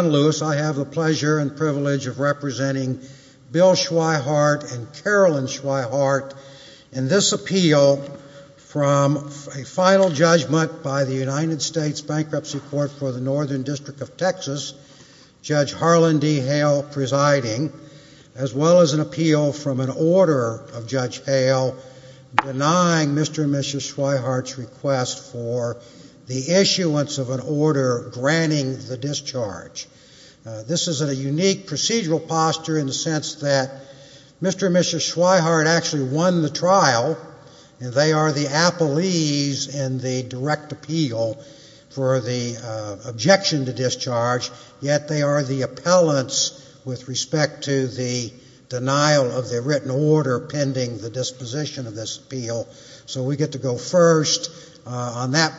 John Lewis, I have the pleasure and privilege of representing Bill Schwyhart and Carolyn Schwyhart in this appeal from a final judgment by the United States Bankruptcy Court for the Northern District of Texas, Judge Harlan D. Hale presiding, as well as an appeal from an order of Judge Hale denying Mr. and Mrs. Schwyhart's request for the issuance of an appeal. This is a unique procedural posture in the sense that Mr. and Mrs. Schwyhart actually won the trial and they are the appellees in the direct appeal for the objection to discharge, yet they are the appellants with respect to the denial of the written order pending the disposition of this appeal. So we get to go first on that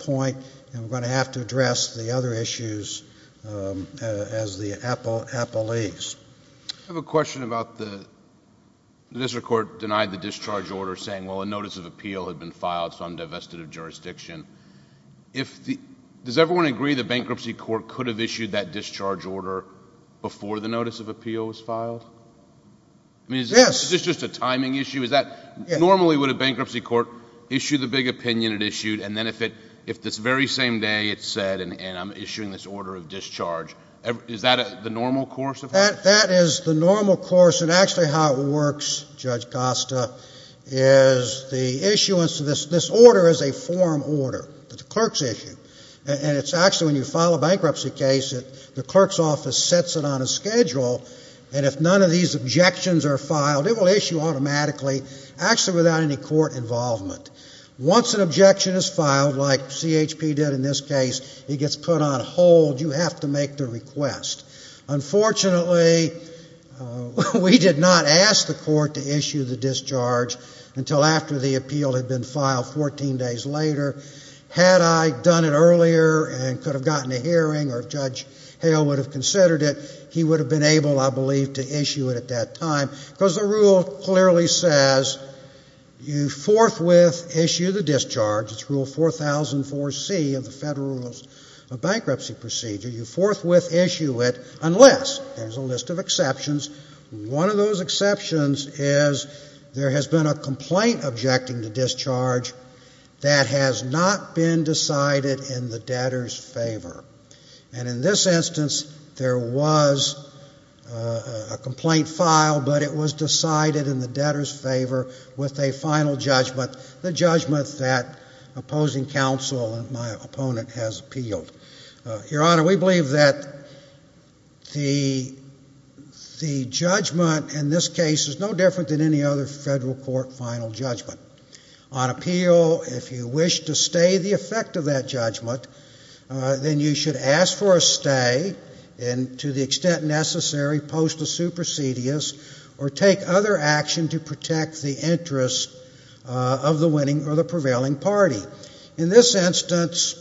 point and we're going to have to address the other issues as the appellees. I have a question about the district court denied the discharge order saying, well, a notice of appeal had been filed, so I'm divested of jurisdiction. Does everyone agree the Bankruptcy Court could have issued that discharge order before the notice of appeal was filed? Yes. Is this just a timing issue? Normally would a Bankruptcy Court issue the big opinion it issued and then if this very same day it's said, and I'm issuing this order of discharge, is that the normal course? That is the normal course and actually how it works, Judge Costa, is the issuance of this order is a forum order that the clerks issue and it's actually when you file a bankruptcy case that the clerk's office sets it on a schedule and if none of these objections are filed, it will issue automatically actually without any court involvement. Once an objection is filed, like CHP did in this case, it gets put on hold, you have to make the request. Unfortunately, we did not ask the court to issue the discharge until after the appeal had been filed 14 days later. Had I done it earlier and could have gotten a hearing or Judge Hale would have considered it, he would have been able, I believe, to issue it at that time because the rule clearly says you forthwith issue the discharge, it's Rule 4004C of the Federal Rules of Bankruptcy Procedure, you forthwith issue it unless, there's a list of exceptions, one of those exceptions is there has been a complaint objecting the discharge that has not been decided in the debtor's favor. And in this instance, there was a complaint filed but it was decided in the debtor's favor with a final judgment, the judgment that opposing counsel and my opponent has appealed. Your Honor, we believe that the judgment in this case is no different than any other federal court final judgment. On appeal, if you wish to stay the effect of that judgment, then you should ask for a stay and to the extent necessary, post a action to protect the interests of the winning or the prevailing party. In this instance,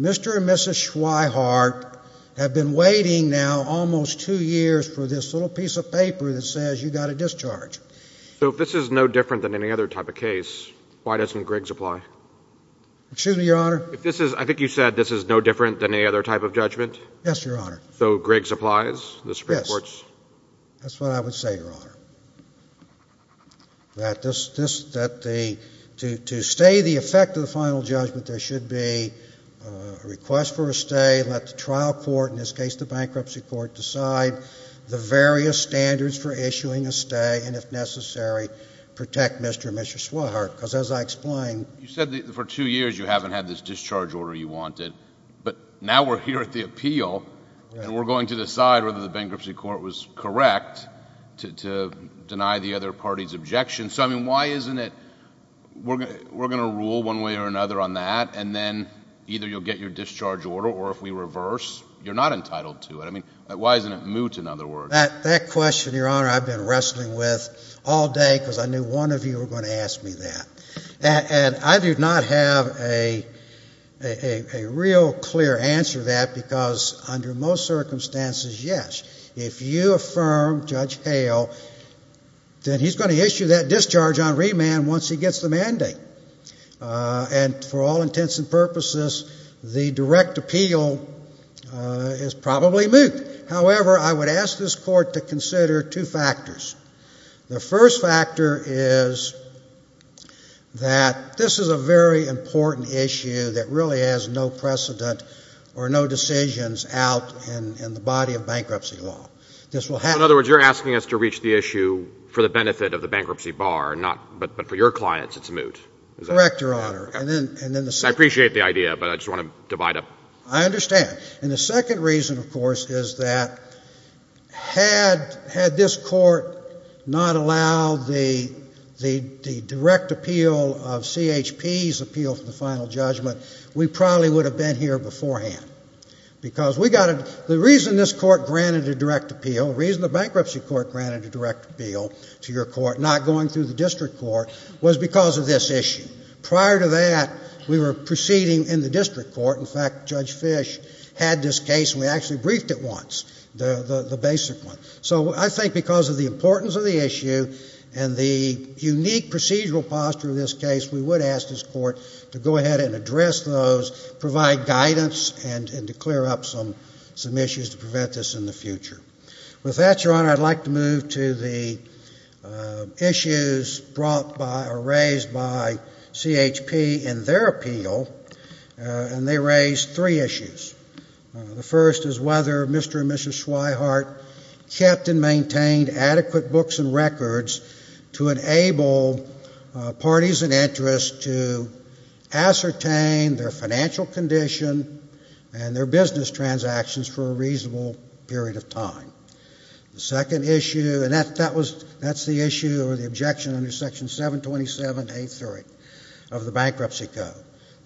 Mr. and Mrs. Schweighart have been waiting now almost two years for this little piece of paper that says you got a discharge. So if this is no different than any other type of case, why doesn't Griggs apply? Excuse me, Your Honor? I think you said this is no different than any other type of judgment? Yes, Your Honor. So Griggs applies? Yes. The to stay the effect of the final judgment, there should be a request for a stay, let the trial court, in this case the bankruptcy court, decide the various standards for issuing a stay and if necessary, protect Mr. and Mrs. Schweighart. Because as I explained... You said for two years you haven't had this discharge order you wanted, but now we're here at the appeal and we're going to decide whether the bankruptcy court was correct to deny the other party's objection. So I mean, why isn't it we're going to rule one way or another on that and then either you'll get your discharge order or if we reverse, you're not entitled to it. I mean, why isn't it moot, in other words? That question, Your Honor, I've been wrestling with all day because I knew one of you were going to ask me that. And I do not have a real clear answer to that because under most circumstances, yes, if you affirm Judge Hale, then he's going to issue that discharge on remand once he gets the mandate. And for all intents and purposes, the direct appeal is probably moot. However, I would ask this court to consider two factors. The first factor is that this is a very important issue that really has no precedent or no decisions out in the body of bankruptcy law. This will be a very important issue. And if you're asking us to reach the issue for the benefit of the bankruptcy bar, but for your clients, it's moot. Correct, Your Honor. I appreciate the idea, but I just want to divide up. I understand. And the second reason, of course, is that had this court not allowed the direct appeal of CHP's appeal for the final judgment, we probably would have been here beforehand. Because the reason this court granted a direct appeal to your court, not going through the district court, was because of this issue. Prior to that, we were proceeding in the district court. In fact, Judge Fish had this case, and we actually briefed it once, the basic one. So I think because of the importance of the issue and the unique procedural posture of this case, we would ask this court to go ahead and address those, provide guidance, and to clear up some issues to prevent this in the future. With that, Your Honor, I'd like to move to the issues brought by or raised by CHP in their appeal. And they raised three issues. The first is whether Mr. and Mrs. Schweihart kept and maintained adequate books and records to enable parties and interests to ascertain their financial condition and their business transactions for a reasonable period of time. The second issue, and that was, that's the issue or the objection under Section 727A3 of the Bankruptcy Code.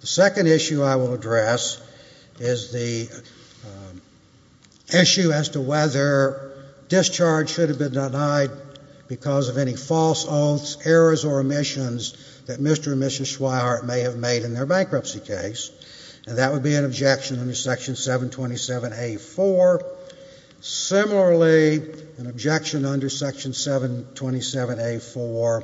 The second issue I will address is the issue as to whether discharge should have been denied because of any false oaths, errors, or omissions that Mr. and Mrs. Schweihart may have made in their bankruptcy case. And that would be an objection under Section 727A4. Similarly, an objection under Section 727A4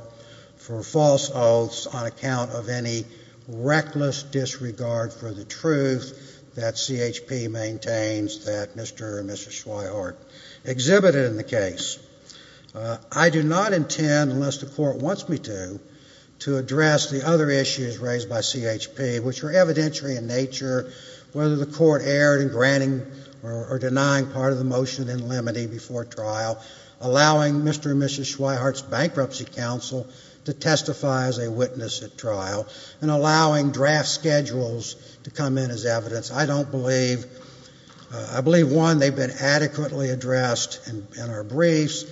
for false oaths on account of any reckless disregard for the truth that CHP maintains that Mr. and Mrs. Schweihart exhibited in the case. I do not intend, unless the court wants me to, to address the other issues raised by CHP, which are evidentiary in nature, whether the court erred in granting or denying part of the motion in limine before trial, allowing Mr. and Mrs. Schweihart's bankruptcy counsel to testify as a witness at trial, and allowing draft schedules to come in as evidence. I don't believe, I believe, one, they've been adequately addressed in our briefs.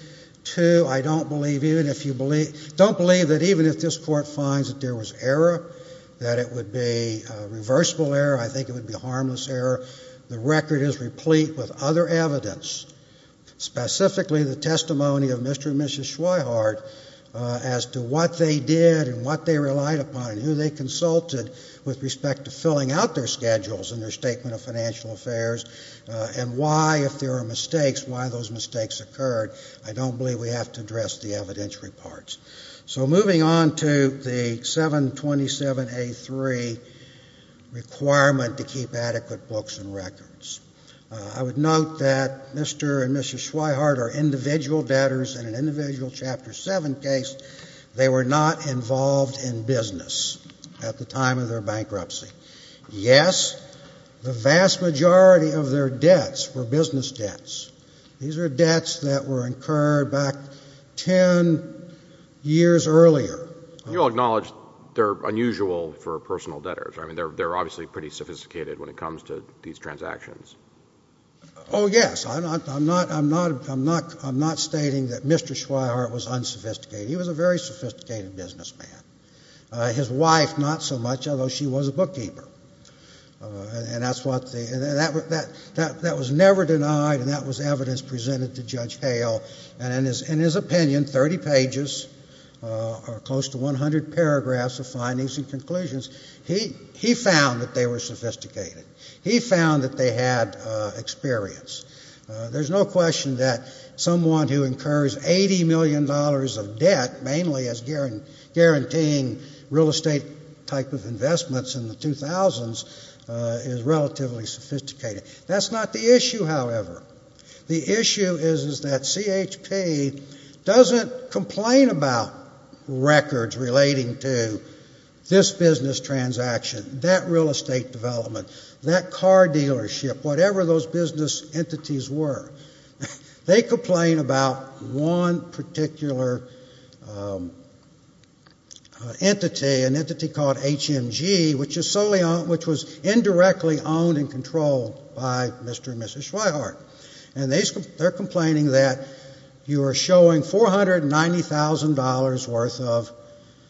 Two, I don't believe, even if you believe, don't believe that even if this court finds that there was error, that it would be reversible error, I think it would be harmless error, the record is replete with other evidence, specifically the testimony of Mr. and Mrs. Schweihart as to what they did and what they relied upon and who they consulted with respect to filling out their schedules in their Statement of Financial Affairs, and why, if there are mistakes, why those mistakes occurred. I don't believe we have to address the evidentiary parts. So moving on to the 727A3 requirement to keep adequate books and records. I would note that Mr. and Mrs. Schweihart are individual debtors in an individual Chapter 7 case. They were not involved in business at the time of their bankruptcy. Yes, the vast majority of their debts were business debts. These are debts that were incurred back ten years earlier. You'll acknowledge they're unusual for personal debtors. I mean, they're obviously pretty sophisticated when it comes to these transactions. Oh, yes. I'm not stating that Mr. Schweihart was unsophisticated. He was a very sophisticated businessman. His wife, not so much, although she was a bookkeeper. And that was never denied, and that was evidence presented to Judge Hale. And in his opinion, 30 pages, or close to 100 paragraphs of findings and conclusions, he found that they were sophisticated. He found that they had experience. There's no question that someone who incurs $80 million of debt, mainly as guaranteeing real estate type of investments in the 2000s, is relatively sophisticated. That's not the issue, however. The issue is that CHP doesn't complain about records relating to this business transaction, that real estate development, that car dealership, whatever those business entities were. They complain about one particular entity, an entity called HMG, which was indirectly owned and controlled by Mr. and Mrs. Schweihart. And they're complaining that you are showing $490,000 worth of,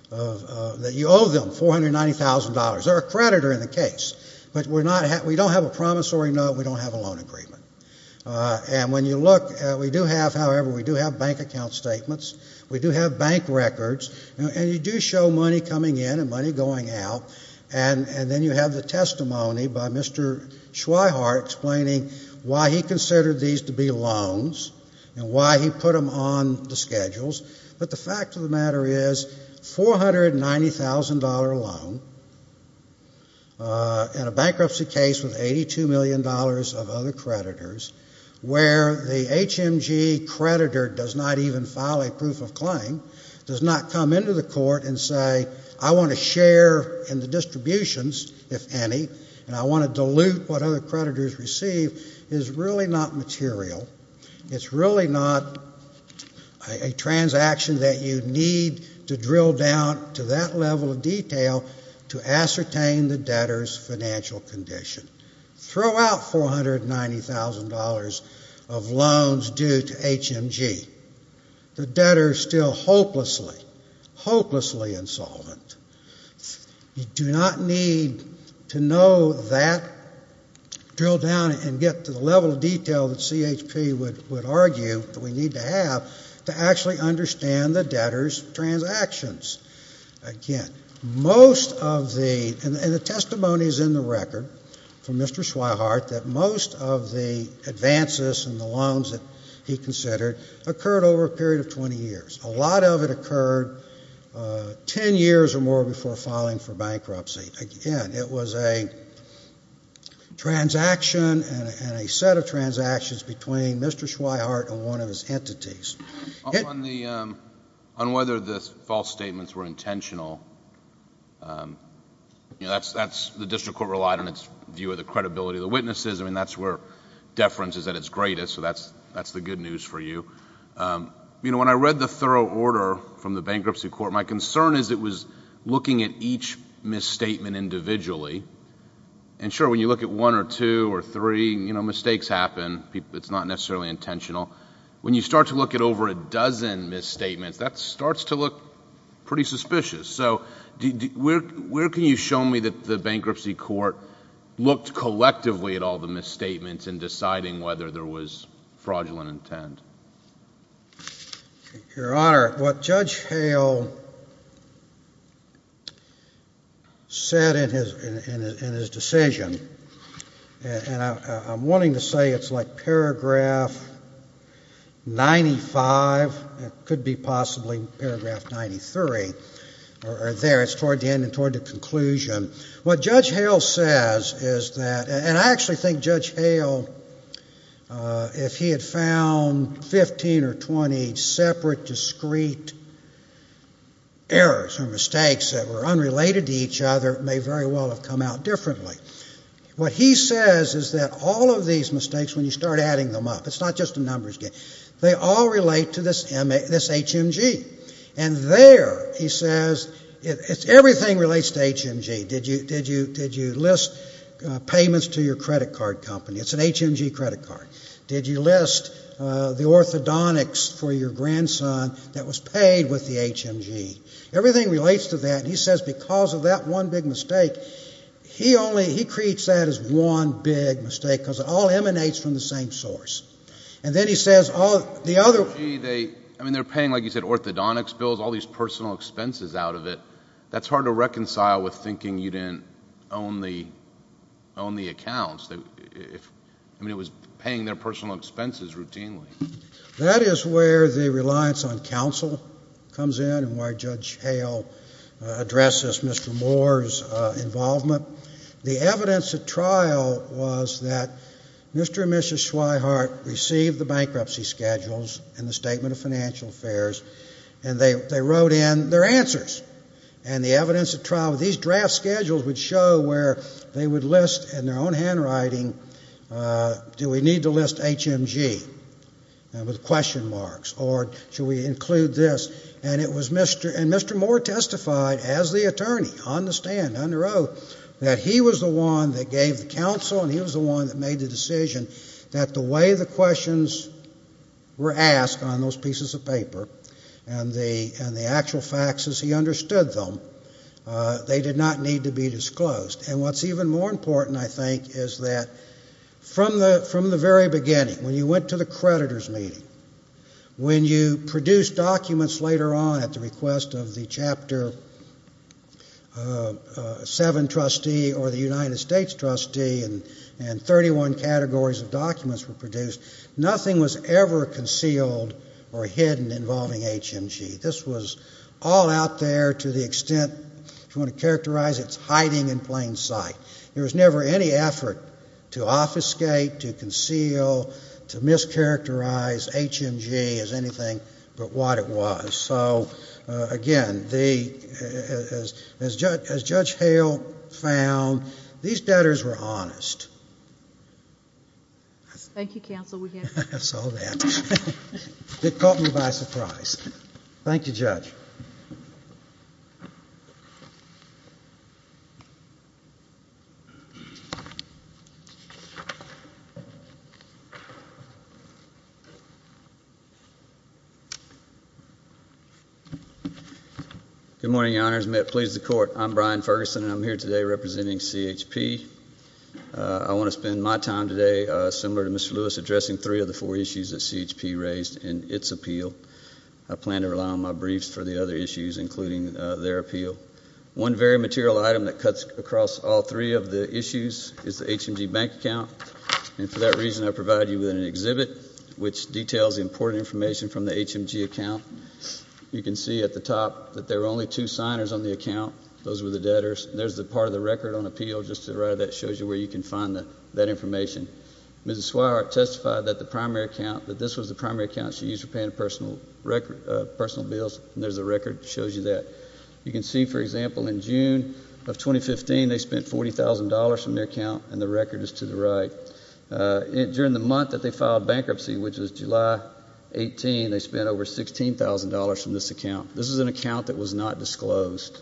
that you owe them $490,000. They're a creditor in the case. But we don't have a promissory note. We don't have a loan agreement. And when you look, we do have, however, we do have bank account statements. We do have bank records. And you do show money coming in and money going out. And then you have the testimony by Mr. Schweihart explaining why he considered these to be loans, and why he put them on the schedules. But the fact of the matter is, $490,000 loan, $490,000 loan, in a bankruptcy case with $82 million of other creditors, where the HMG creditor does not even file a proof of claim, does not come into the court and say, I want to share in the distributions, if any, and I want to dilute what other creditors receive, is really not material. It's really not a transaction that you need to drill down to that level of detail to ascertain the debtor's financial condition. Throw out $490,000 of loans due to HMG. The debtor is still hopelessly, hopelessly insolvent. You do not need to know that, drill down and get to the level of detail that CHP would argue that we need to have to actually understand the debtor's transactions. Again, most of the, and the testimony is in the record from Mr. Schweihart, that most of the advances in the loans that he considered occurred over a period of 20 years. A lot of it occurred 10 years or more before filing for bankruptcy. Again, it was a transaction and a set of transactions between Mr. Schweihart and one of his entities. On whether the false statements were intentional, the district court relied on its view of the credibility of the witnesses. That's where deference is at its greatest, so that's the good news for you. When I read the thorough order from the bankruptcy court, my concern is it was looking at each misstatement individually. Sure, when you look at one or two or three, you know, mistakes happen. It's not necessarily intentional. When you start to look at over a dozen misstatements, that starts to look pretty suspicious. So where can you show me that the bankruptcy court looked collectively at all the misstatements in deciding whether there was fraudulent intent? Your Honor, what Judge Hale said in his decision, and I'm going to go back to that, is that I'm wanting to say it's like paragraph 95, it could be possibly paragraph 93, or there, it's toward the end and toward the conclusion. What Judge Hale says is that, and I actually think Judge Hale, if he had found 15 or 20 separate, discrete errors or mistakes that were unrelated to each other, it may very well have come out differently. What he says is that all of these mistakes, when you start adding them up, it's not just a numbers game, they all relate to this HMG. And there, he says, everything relates to HMG. Did you list payments to your credit card company? It's an HMG credit card. Did you list the orthodontics for your grandson that was paid with the HMG? Everything relates to that. He says because of that one big mistake, he only, he creates that as one big mistake, because it all emanates from the same source. And then he says, oh, the other, the HMG, they, I mean, they're paying, like you said, orthodontics bills, all these personal expenses out of it. That's hard to reconcile with thinking you didn't own the, own the accounts. I mean, it was paying their personal expenses routinely. That is where the reliance on counsel comes in and why Judge Hale addresses Mr. Moore's involvement. The evidence at trial was that Mr. and Mrs. Schweighart received the bankruptcy schedules and the Statement of Financial Affairs, and they, they wrote in their answers. And the evidence at trial, these draft schedules would show where they would list in their own handwriting, do we need to list HMG with question marks, or should we include this? And it was Mr., and Mr. Moore testified as the attorney on the stand, under oath, that he was the one that gave the counsel, and he was the one that made the decision that the way the questions were asked on those pieces of paper, and the, and the actual facts as he understood them, they did not need to be disclosed. And what's even more important, I think, is that from the, from the very beginning, when you went to the creditor's meeting, when you produced documents later on at the request of the Chapter 7 trustee or the United States trustee, and, and 31 categories of documents were produced, nothing was ever concealed or hidden involving HMG. This was all out there to the extent, if you want to characterize it, it's hiding in plain sight. There was never any effort to obfuscate, to conceal, to mischaracterize HMG as anything but what it was. So, again, the, as, as Judge, as Judge Hale found, these debtors were honest. Thank you, counsel. We can't hear you. So then. It caught me by surprise. Thank you, Judge. Good morning, your honors. May it please the court. I'm Brian Ferguson, and I'm here today representing CHP. I want to spend my time today, similar to Mr. Lewis, addressing three of the four issues that CHP raised in its appeal. I plan to rely on my briefs for the other issues, including their appeal. One very material item that cuts across all three of the issues is the HMG bank account, and for that reason, I provide you with an exhibit which details important information from the HMG account. You can see at the top that there were only two signers on the account. Those were the debtors. There's the part of the record on appeal, just to the right of that, shows you where you can find that, that information. Mrs. Swire testified that the primary account, that this was the primary account she used for paying personal bills, and there's a record that shows you that. You can see, for example, in June of 2015, they spent $40,000 from their account, and the record is to the right. During the month that they filed bankruptcy, which was July 18, they spent over $16,000 from this account. This is an account that was not disclosed.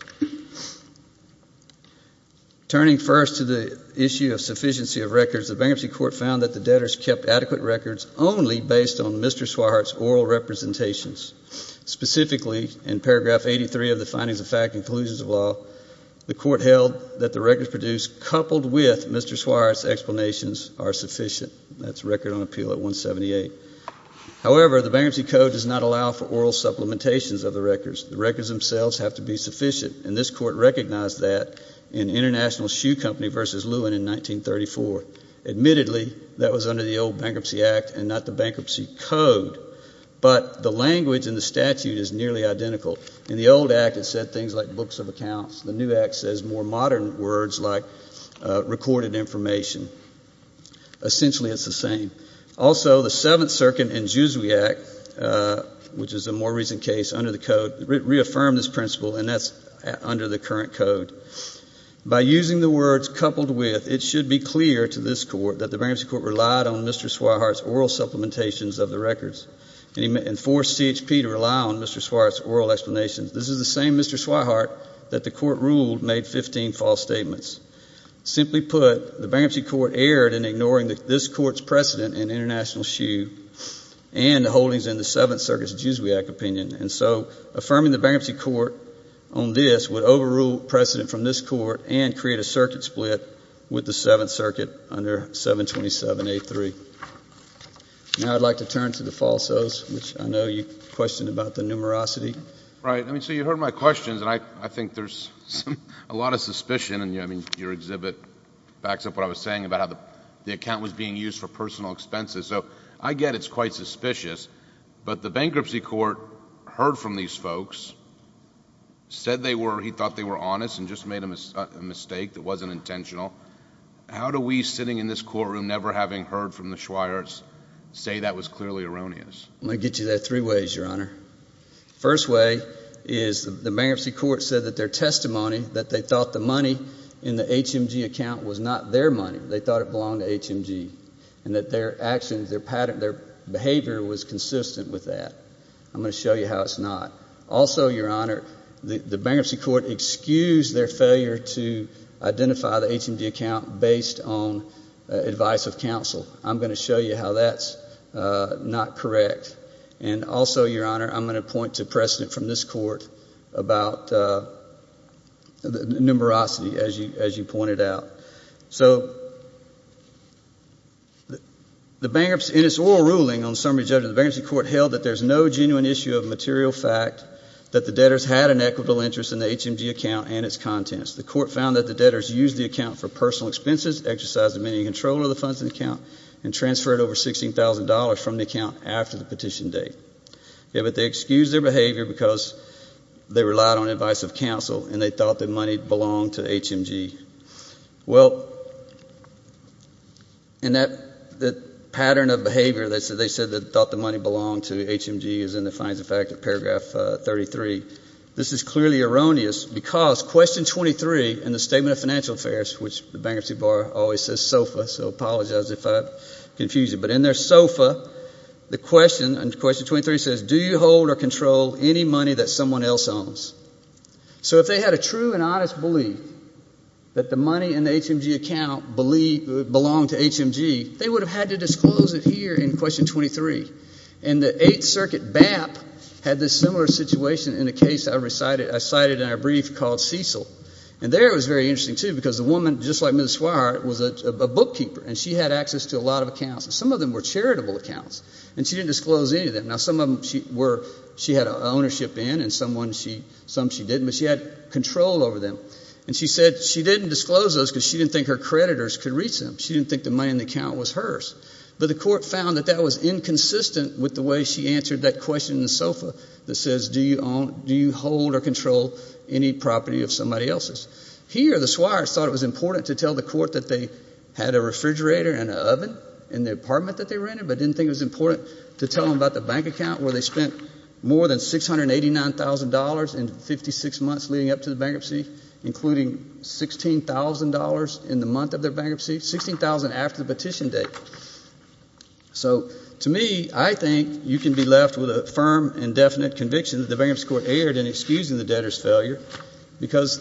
Turning first to the issue of sufficiency of records, the bankruptcy court found that the debtors kept adequate records only based on Mr. Swire's oral representations. Specifically, in paragraph 83 of the findings of fact and conclusions of law, the court held that the records produced coupled with Mr. Swire's explanations are sufficient. That's record on appeal at 178. However, the bankruptcy code does not allow for oral supplementations of the records. The records themselves have to be sufficient, and this court recognized that in International Shoe Company v. Lewin in 1934. Admittedly, that was under the old Bankruptcy Act and not the Bankruptcy Code, but the language in the statute is nearly identical. In the old Act, it said things like books of accounts. The new Act says more modern words like recorded information. Essentially, it's the same. Also, the Seventh Circuit and Jusui Act, which is a more recent case under the Code, reaffirmed this principle, and that's under the current Code. By using the words coupled with, it should be clear to this court that the bankruptcy court relied on Mr. Swire's oral supplementations of the records and forced CHP to rely on Mr. Swire's oral explanations. This is the same Mr. Swire that the court ruled made 15 false statements. Simply put, the bankruptcy court erred in ignoring this court's precedent in International Shoe and holdings in the Seventh Circuit. The bankruptcy court on this would overrule precedent from this court and create a circuit split with the Seventh Circuit under 727A3. Now, I'd like to turn to the falsos, which I know you questioned about the numerosity. Right. I mean, so you heard my questions, and I think there's a lot of suspicion, and I mean, your exhibit backs up what I was saying about how the account was being used for personal said they were, he thought they were honest and just made a mistake that wasn't intentional. How do we, sitting in this courtroom, never having heard from the Swires, say that was clearly erroneous? I'm going to get you there three ways, Your Honor. First way is the bankruptcy court said that their testimony, that they thought the money in the HMG account was not their money. They thought it belonged to HMG, and that their actions, their behavior was consistent with that. I'm going to show you how it's not. Also, Your Honor, the bankruptcy court excused their failure to identify the HMG account based on advice of counsel. I'm going to show you how that's not correct. And also, Your Honor, I'm going to point to precedent from this court about the numerosity, as you pointed out. So, the bankruptcy, in its oral ruling on summary judgment, the bankruptcy court held that there's no genuine issue of material fact that the debtors had an equitable interest in the HMG account and its contents. The court found that the debtors used the account for personal expenses, exercised dominion and control of the funds in the account, and transferred over $16,000 from the account after the petition date. Yeah, but they excused their behavior because they relied on advice of counsel and they Well, in that pattern of behavior, they said they thought the money belonged to HMG as in the fines of fact of paragraph 33. This is clearly erroneous because question 23 in the Statement of Financial Affairs, which the bankruptcy bar always says SOFA, so apologize if I confuse you, but in their SOFA, the question, in question 23, says, Do you hold or control any money that someone else owns? So if they had a true and honest belief that the money in the HMG account belonged to HMG, they would have had to disclose it here in question 23. And the Eighth Circuit BAP had this similar situation in a case I recited, I cited in our brief called Cecil. And there it was very interesting, too, because the woman, just like Ms. Swire, was a bookkeeper, and she had access to a lot of accounts, and some of them were charitable accounts, and she didn't disclose any of them. Now, some of them she had ownership in, and some she didn't, but she had control over them. And she said most of those because she didn't think her creditors could reach them. She didn't think the money in the account was hers. But the court found that that was inconsistent with the way she answered that question in the SOFA that says, Do you hold or control any property of somebody else's? Here, the Swires thought it was important to tell the court that they had a refrigerator and an oven in the apartment that they rented, but didn't think it was important to tell them about the bank account where they spent more than $689,000 in 56 months leading up to the bankruptcy, including $16,000 in the month of their bankruptcy, $16,000 after the petition date. So, to me, I think you can be left with a firm and definite conviction that the Bankruptcy Court erred in excusing the debtor's failure because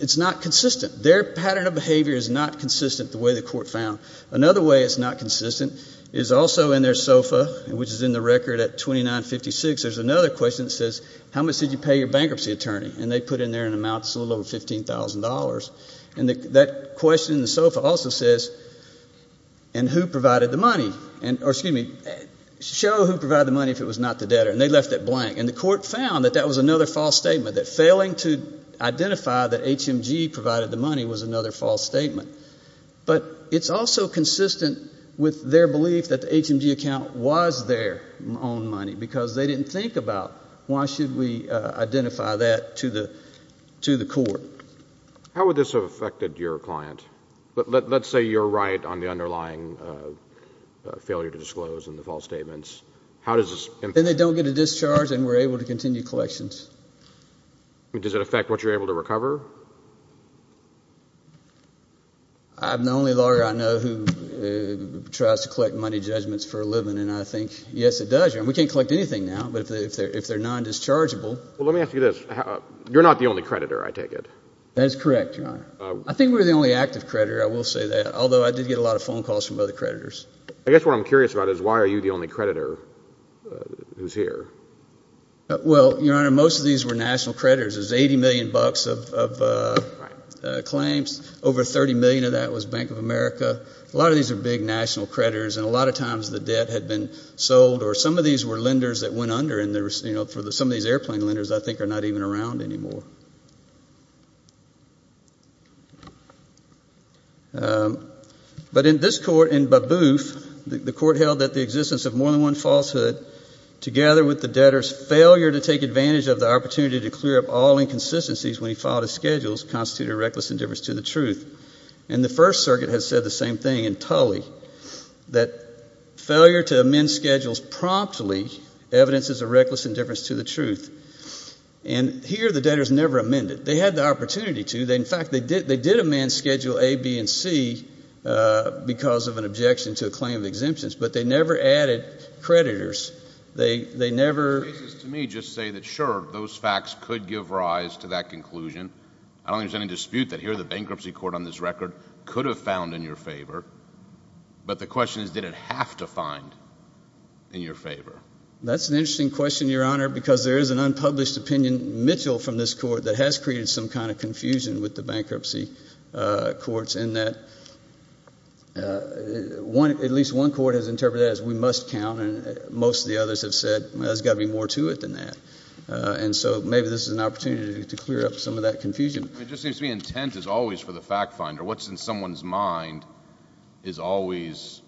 it's not consistent. Their pattern of behavior is not consistent the way the court found. Another way it's not consistent is also in their SOFA, which is in the record at 2956, there's another question that says, How much did you pay your bankruptcy attorney? And they put in there an amount that's a little over $15,000. And that question in the SOFA also says, And who provided the money? Or, excuse me, Show who provided the money if it was not the debtor. And they left it blank. And the court found that that was another false statement, that failing to identify that HMG provided the money was another false statement. But it's also consistent with their belief that the HMG account was their own money, because they didn't think about, Why should we identify that to the court? How would this have affected your client? Let's say you're right on the underlying failure to disclose and the false statements. Then they don't get a discharge and we're able to continue collections. Does it affect what you're able to recover? I'm the only lawyer I know who tries to collect money judgments for a living, and I think, Yes, it does. We can't collect anything now, but if they're non-dischargeable, Well, let me ask you this. You're not the only creditor, I take it? That's correct, Your Honor. I think we're the only active creditor, I will say that, although I did get a lot of phone calls from other creditors. I guess what I'm curious about is, Why are you the only creditor who's here? Well, Your Honor, most of these were national creditors. There's $80 million of claims. Over $30 million of that was Bank of America. A lot of these are big national creditors, and a lot of times the debt had been sold, or some of these were lenders that went under, and some of these airplane lenders, I think, are not even around anymore. But in this court, in Baboof, the court held that the existence of more than one falsehood, together with the debtor's failure to take advantage of the opportunity to clear up all inconsistencies when he filed his schedules, constituted a reckless indifference to the truth. And the First Circuit has said the same thing in Tully, that failure to amend schedules promptly evidences a reckless indifference to the truth. And here, the debtors never amended. They had the opportunity to. In fact, they did amend Schedule A, B, and C because of an objection to a claim of exemptions, but they never added creditors. They never – The cases to me just say that, sure, those facts could give rise to that conclusion. I don't think there's any dispute that here, the bankruptcy court on this record could have found in your favor. But the question is, did it have to find in your favor? That's an interesting question, Your Honor, because there is an unpublished opinion, Mitchell, from this court, that has created some kind of confusion with the bankruptcy courts, in that at least one court has interpreted that as, we must count, and most of the others have said, well, there's got to be more to it than that. And so maybe this is an opportunity to clear up some of that confusion. It just seems to me intent is always for the fact finder. What's in someone's mind is always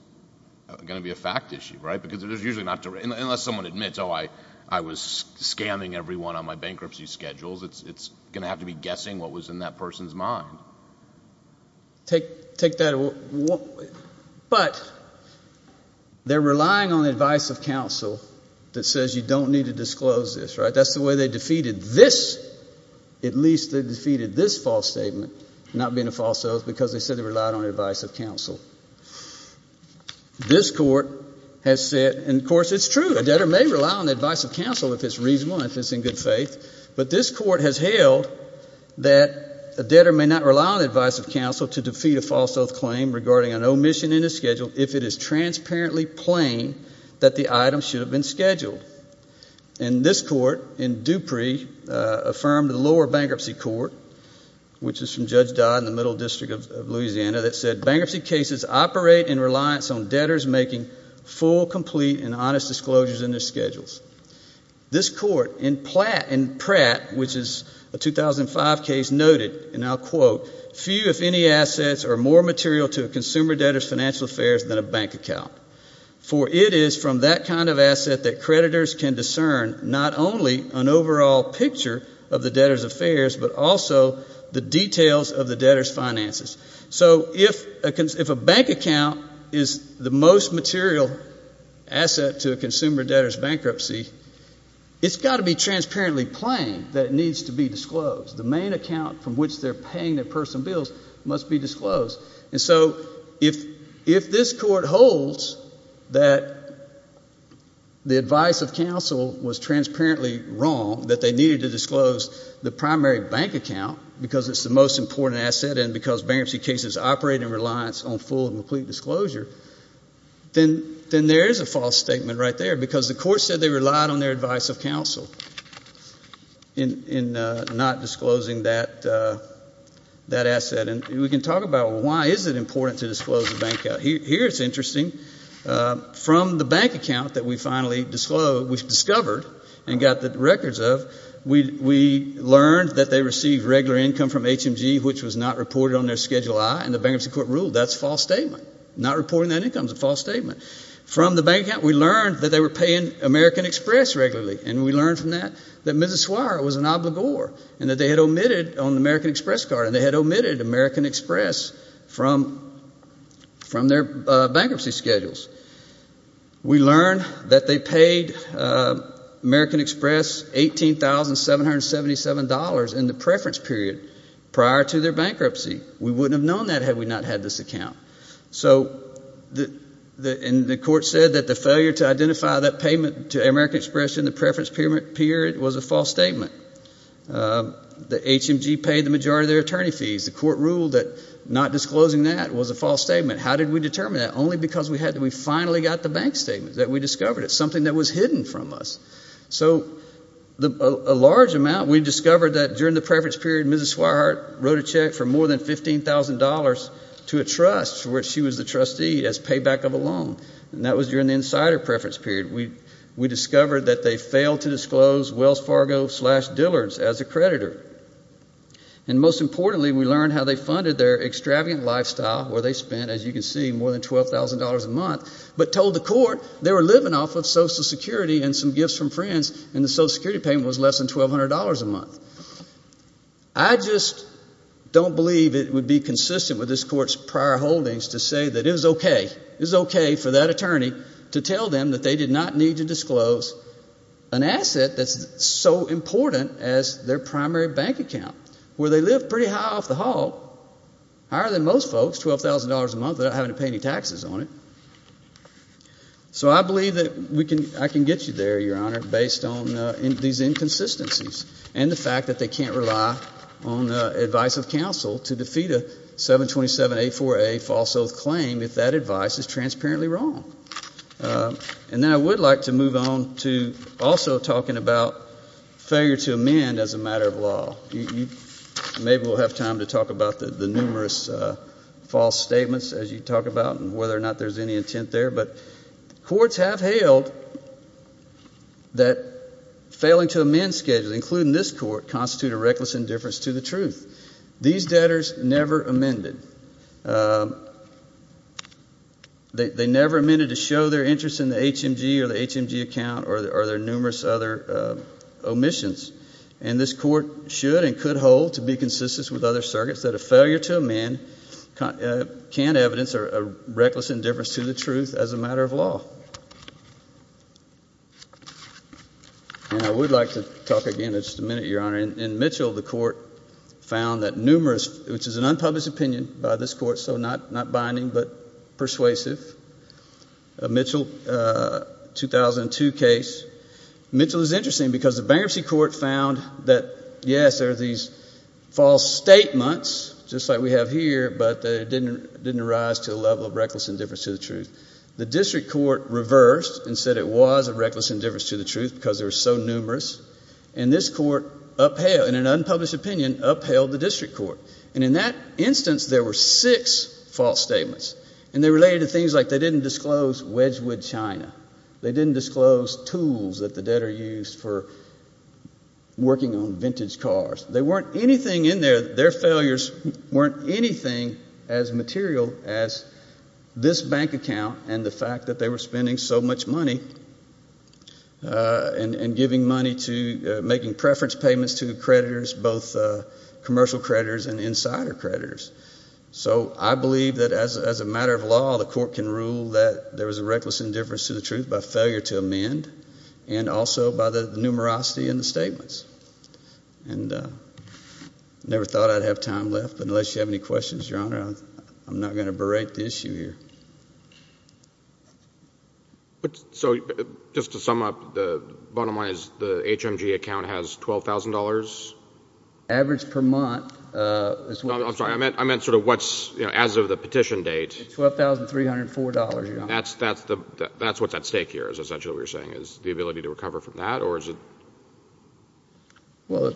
going to be a fact issue, right? Because there's usually not – unless someone admits, oh, I was scamming everyone on my bankruptcy schedules, it's going to have to be guessing what was in that person's mind. Take that – but they're relying on the advice of counsel that says you don't need to disclose this, right? That's the way they defeated this – at least they defeated this false statement, not being a false oath, because they said they relied on the advice of counsel. This court has said – and of course, it's true, a debtor may rely on the advice of counsel if it's reasonable and if it's in good faith. But this court has held that a debtor may not rely on the advice of counsel to defeat a false oath claim regarding an omission in a schedule if it is transparently plain that the item should have been scheduled. And this court in Dupree affirmed the lower bankruptcy court, which is from Judge Dodd in the Middle District of Louisiana, that said bankruptcy cases operate in reliance on debtors making full, complete, and honest disclosures in their schedules. This court in Pratt, which is a 2005 case, noted, and I'll quote, few if any assets are more material to a consumer debtor's financial affairs than a bank account, for it is from that kind of asset that creditors can discern not only an overall picture of the debtor's affairs, but also the details of the debtor's finances. So if a bank account is the most material asset to a consumer debtor's bankruptcy, it's got to be transparently plain that it needs to be disclosed. The main account from which they're paying their personal bills must be disclosed. And so if this court holds that the advice of counsel was transparently wrong, that they needed to disclose the primary bank account because it's the most important asset and because bankruptcy cases operate in reliance on full and complete disclosure, then there is a false statement right there because the court said they relied on their advice of counsel in not disclosing that asset. And we can talk about why is it important to disclose the bank account. Here it's interesting. From the bank account that we finally discovered and got the records of, we learned that they received regular income from HMG, which was not reported on their Schedule I, and the Bankruptcy Court ruled that's a false statement. Not reporting that income is a false statement. From the bank account, we learned that they were paying American Express regularly, and we learned from that that Mrs. Swire was an obligor and that they had omitted on the American Express card and they had omitted American Express from their bankruptcy schedules. We learned that they paid American Express $18,777 in the preference period prior to their bankruptcy. We wouldn't have known that had we not had this account. So the court said that the failure to identify that payment to American Express in the preference period was a false statement. The HMG paid the majority of their attorney fees. The court ruled that not disclosing that was a false statement. How did we determine that? Only because we finally got the bank statement that we discovered. It's something that was hidden from us. So a large amount, we discovered that during the preference period, Mrs. Swire wrote a check for more than $15,000 to a trust for which she was the trustee as payback of a loan, and that was during the insider preference period. We discovered that they failed to disclose Wells Fargo slash Dillard's as a creditor. And most importantly, we learned how they funded their extravagant lifestyle, where they spent, as you can see, more than $12,000 a month, but told the court they were living off of Social Security and some gifts from friends and the Social Security payment was less than $1,200 a month. I just don't believe it would be consistent with this court's prior holdings to say that it was okay, it was okay for that attorney to tell them that they did not need to disclose an asset that's so important as their primary bank account, where they live pretty high off the hall, higher than most folks, $12,000 a month, without having to pay any taxes on it. So I believe that I can get you there, Your Honor, based on these inconsistencies and the fact that they can't rely on advice of counsel to defeat a 727A4A false oath claim if that advice is transparently wrong. And then I would like to move on to also talking about failure to amend as a matter of law. Maybe we'll have time to talk about the numerous false statements, as you talk about, and whether or not there's any intent there. But courts have hailed that failing to amend schedules, including this court, constitute a reckless indifference to the truth. These debtors never amended. They never amended to show their interest in the HMG or the HMG account or their numerous other omissions. And this court should and could hold to be consistent with other circuits that a failure to amend can't evidence a reckless indifference to the truth as a matter of law. And I would like to talk again in just a minute, Your Honor. In Mitchell, the court found that numerous, which is an unpublished opinion by this court, so not binding but persuasive, a Mitchell 2002 case. Mitchell is interesting because the bankruptcy court found that, yes, there are these false statements, just like we have here, but they didn't arise to the level of reckless indifference to the truth. The district court reversed and said it was a reckless indifference to the truth because there were so numerous. And this court, in an unpublished opinion, upheld the district court. And in that instance, there were six false statements. And they related to things like they didn't disclose Wedgwood, China. They didn't disclose tools that the debtor used for working on vintage cars. There weren't anything in there. Their failures weren't anything as material as this bank account and the fact that they were spending so much money and giving money to making preference payments to creditors, both commercial creditors and insider creditors. So I believe that as a matter of law, the court can rule that there was a reckless indifference to the truth by failure to amend and also by the numerosity in the statements. And I never thought I'd have time left, but unless you have any questions, Your Honor, I'm not going to berate the issue here. So just to sum up, the bottom line is the HMG account has $12,000? Average per month. I'm sorry, I meant sort of what's as of the petition date. $12,304, Your Honor. That's what's at stake here is essentially what you're saying, is the ability to recover from that, or is it? Well,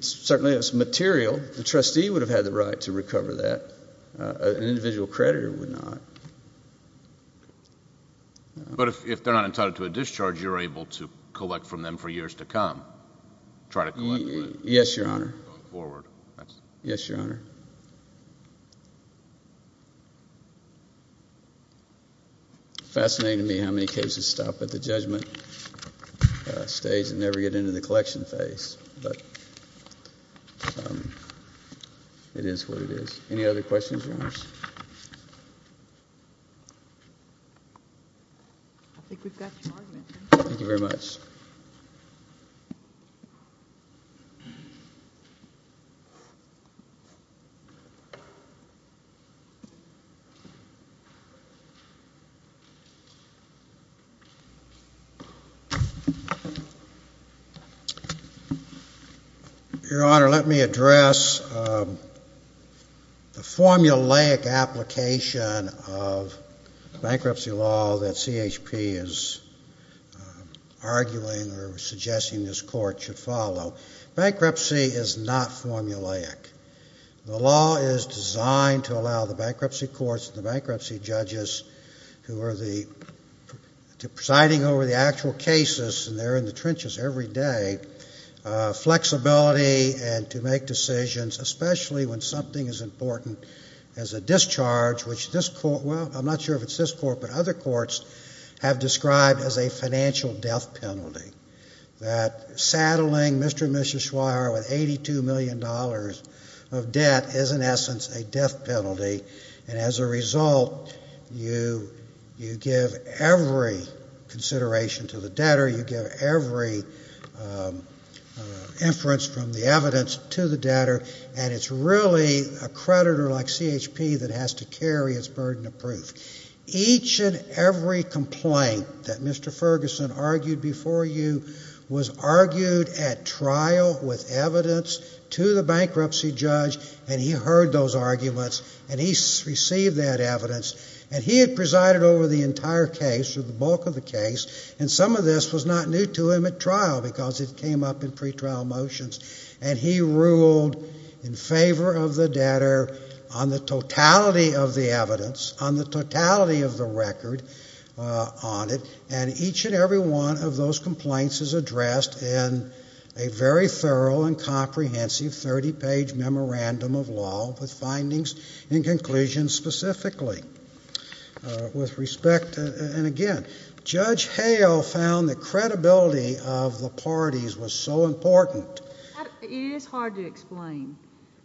certainly it's material. The trustee would have had the right to recover that. An individual creditor would not. But if they're not entitled to a discharge, you're able to collect from them for years to come, try to collect? Yes, Your Honor. Go forward. Yes, Your Honor. Fascinating to me how many cases stop at the judgment stage and never get into the collection phase. But it is what it is. Any other questions, Your Honors? I think we've got your argument. Thank you very much. Your Honor, let me address the formulaic application of bankruptcy law that CHP is arguing or suggesting this Court should follow. Bankruptcy is not formulaic. The law is designed to allow the bankruptcy courts and the bankruptcy judges who are presiding over the actual cases, and they're in the trenches every day, flexibility to make decisions, especially when something as important as a discharge, which this Court, well, I'm not sure if it's this Court, but other courts have described as a financial death penalty. That saddling Mr. and Mrs. Schreier with $82 million of debt is, in essence, a death penalty. And as a result, you give every consideration to the debtor, you give every inference from the evidence to the debtor, and it's really a creditor like CHP that has to carry its burden of proof. Each and every complaint that Mr. Ferguson argued before you was argued at trial with evidence to the bankruptcy judge, and he heard those arguments, and he received that evidence, and he had presided over the entire case or the bulk of the case, and some of this was not new to him at trial because it came up in pretrial motions, and he ruled in favor of the debtor on the totality of the evidence, on the totality of the record on it, and each and every one of those complaints is addressed in a very thorough and comprehensive 30-page memorandum of law with findings and conclusions specifically. With respect, and again, Judge Hale found that credibility of the parties was so important. It is hard to explain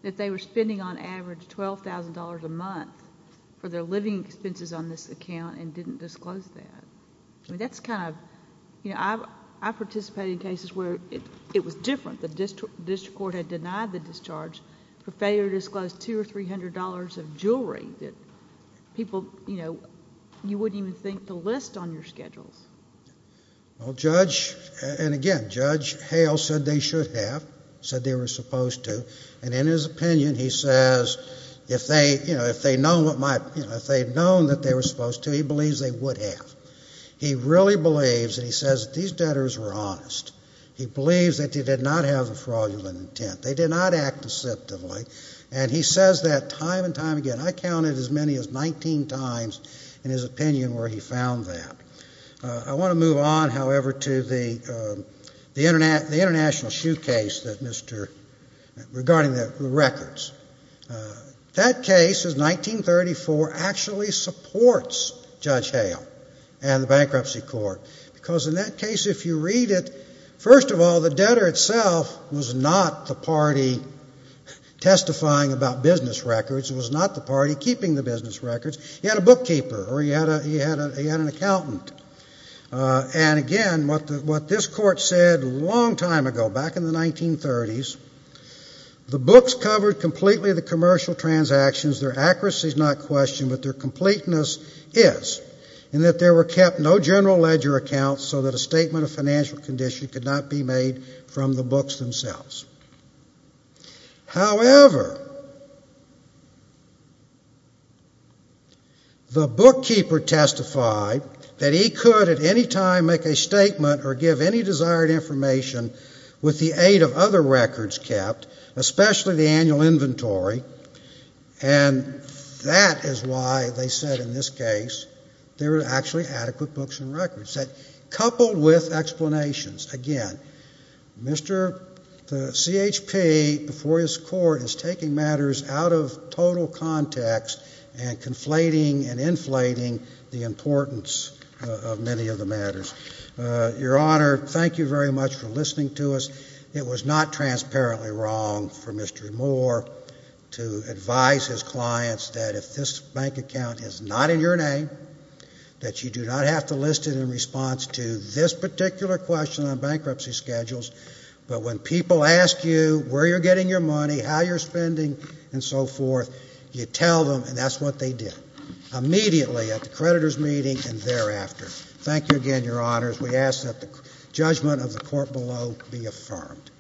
that they were spending on average $12,000 a month for their living expenses on this account and didn't disclose that. That's kind of, you know, I've participated in cases where it was different. The district court had denied the discharge for failure to disclose $200 or $300 of jewelry that people, you know, you wouldn't even think to list on your schedules. Well, Judge, and again, Judge Hale said they should have, said they were supposed to, and in his opinion he says if they, you know, if they had known that they were supposed to, he believes they would have. He really believes, and he says that these debtors were honest. He believes that they did not have a fraudulent intent. They did not act deceptively, and he says that time and time again. I counted as many as 19 times in his opinion where he found that. I want to move on, however, to the international shoe case regarding the records. That case is 1934, actually supports Judge Hale and the bankruptcy court because in that case if you read it, first of all, the debtor itself was not the party testifying about business records. It was not the party keeping the business records. He had a bookkeeper or he had an accountant, and again, what this court said a long time ago, back in the 1930s, the books covered completely the commercial transactions. Their accuracy is not questioned, but their completeness is, in that there were kept no general ledger accounts so that a statement of financial condition could not be made from the books themselves. However, the bookkeeper testified that he could at any time make a statement or give any desired information with the aid of other records kept, especially the annual inventory, and that is why they said in this case there were actually adequate books and records. Coupled with explanations, again, Mr. CHP before his court is taking matters out of total context and conflating and inflating the importance of many of the matters. Your Honor, thank you very much for listening to us. It was not transparently wrong for Mr. Moore to advise his clients that if this bank account is not in your name, that you do not have to list it in response to this particular question on bankruptcy schedules, but when people ask you where you're getting your money, how you're spending, and so forth, you tell them, and that's what they did immediately at the creditor's meeting and thereafter. Thank you again, Your Honors. We ask that the judgment of the court below be affirmed.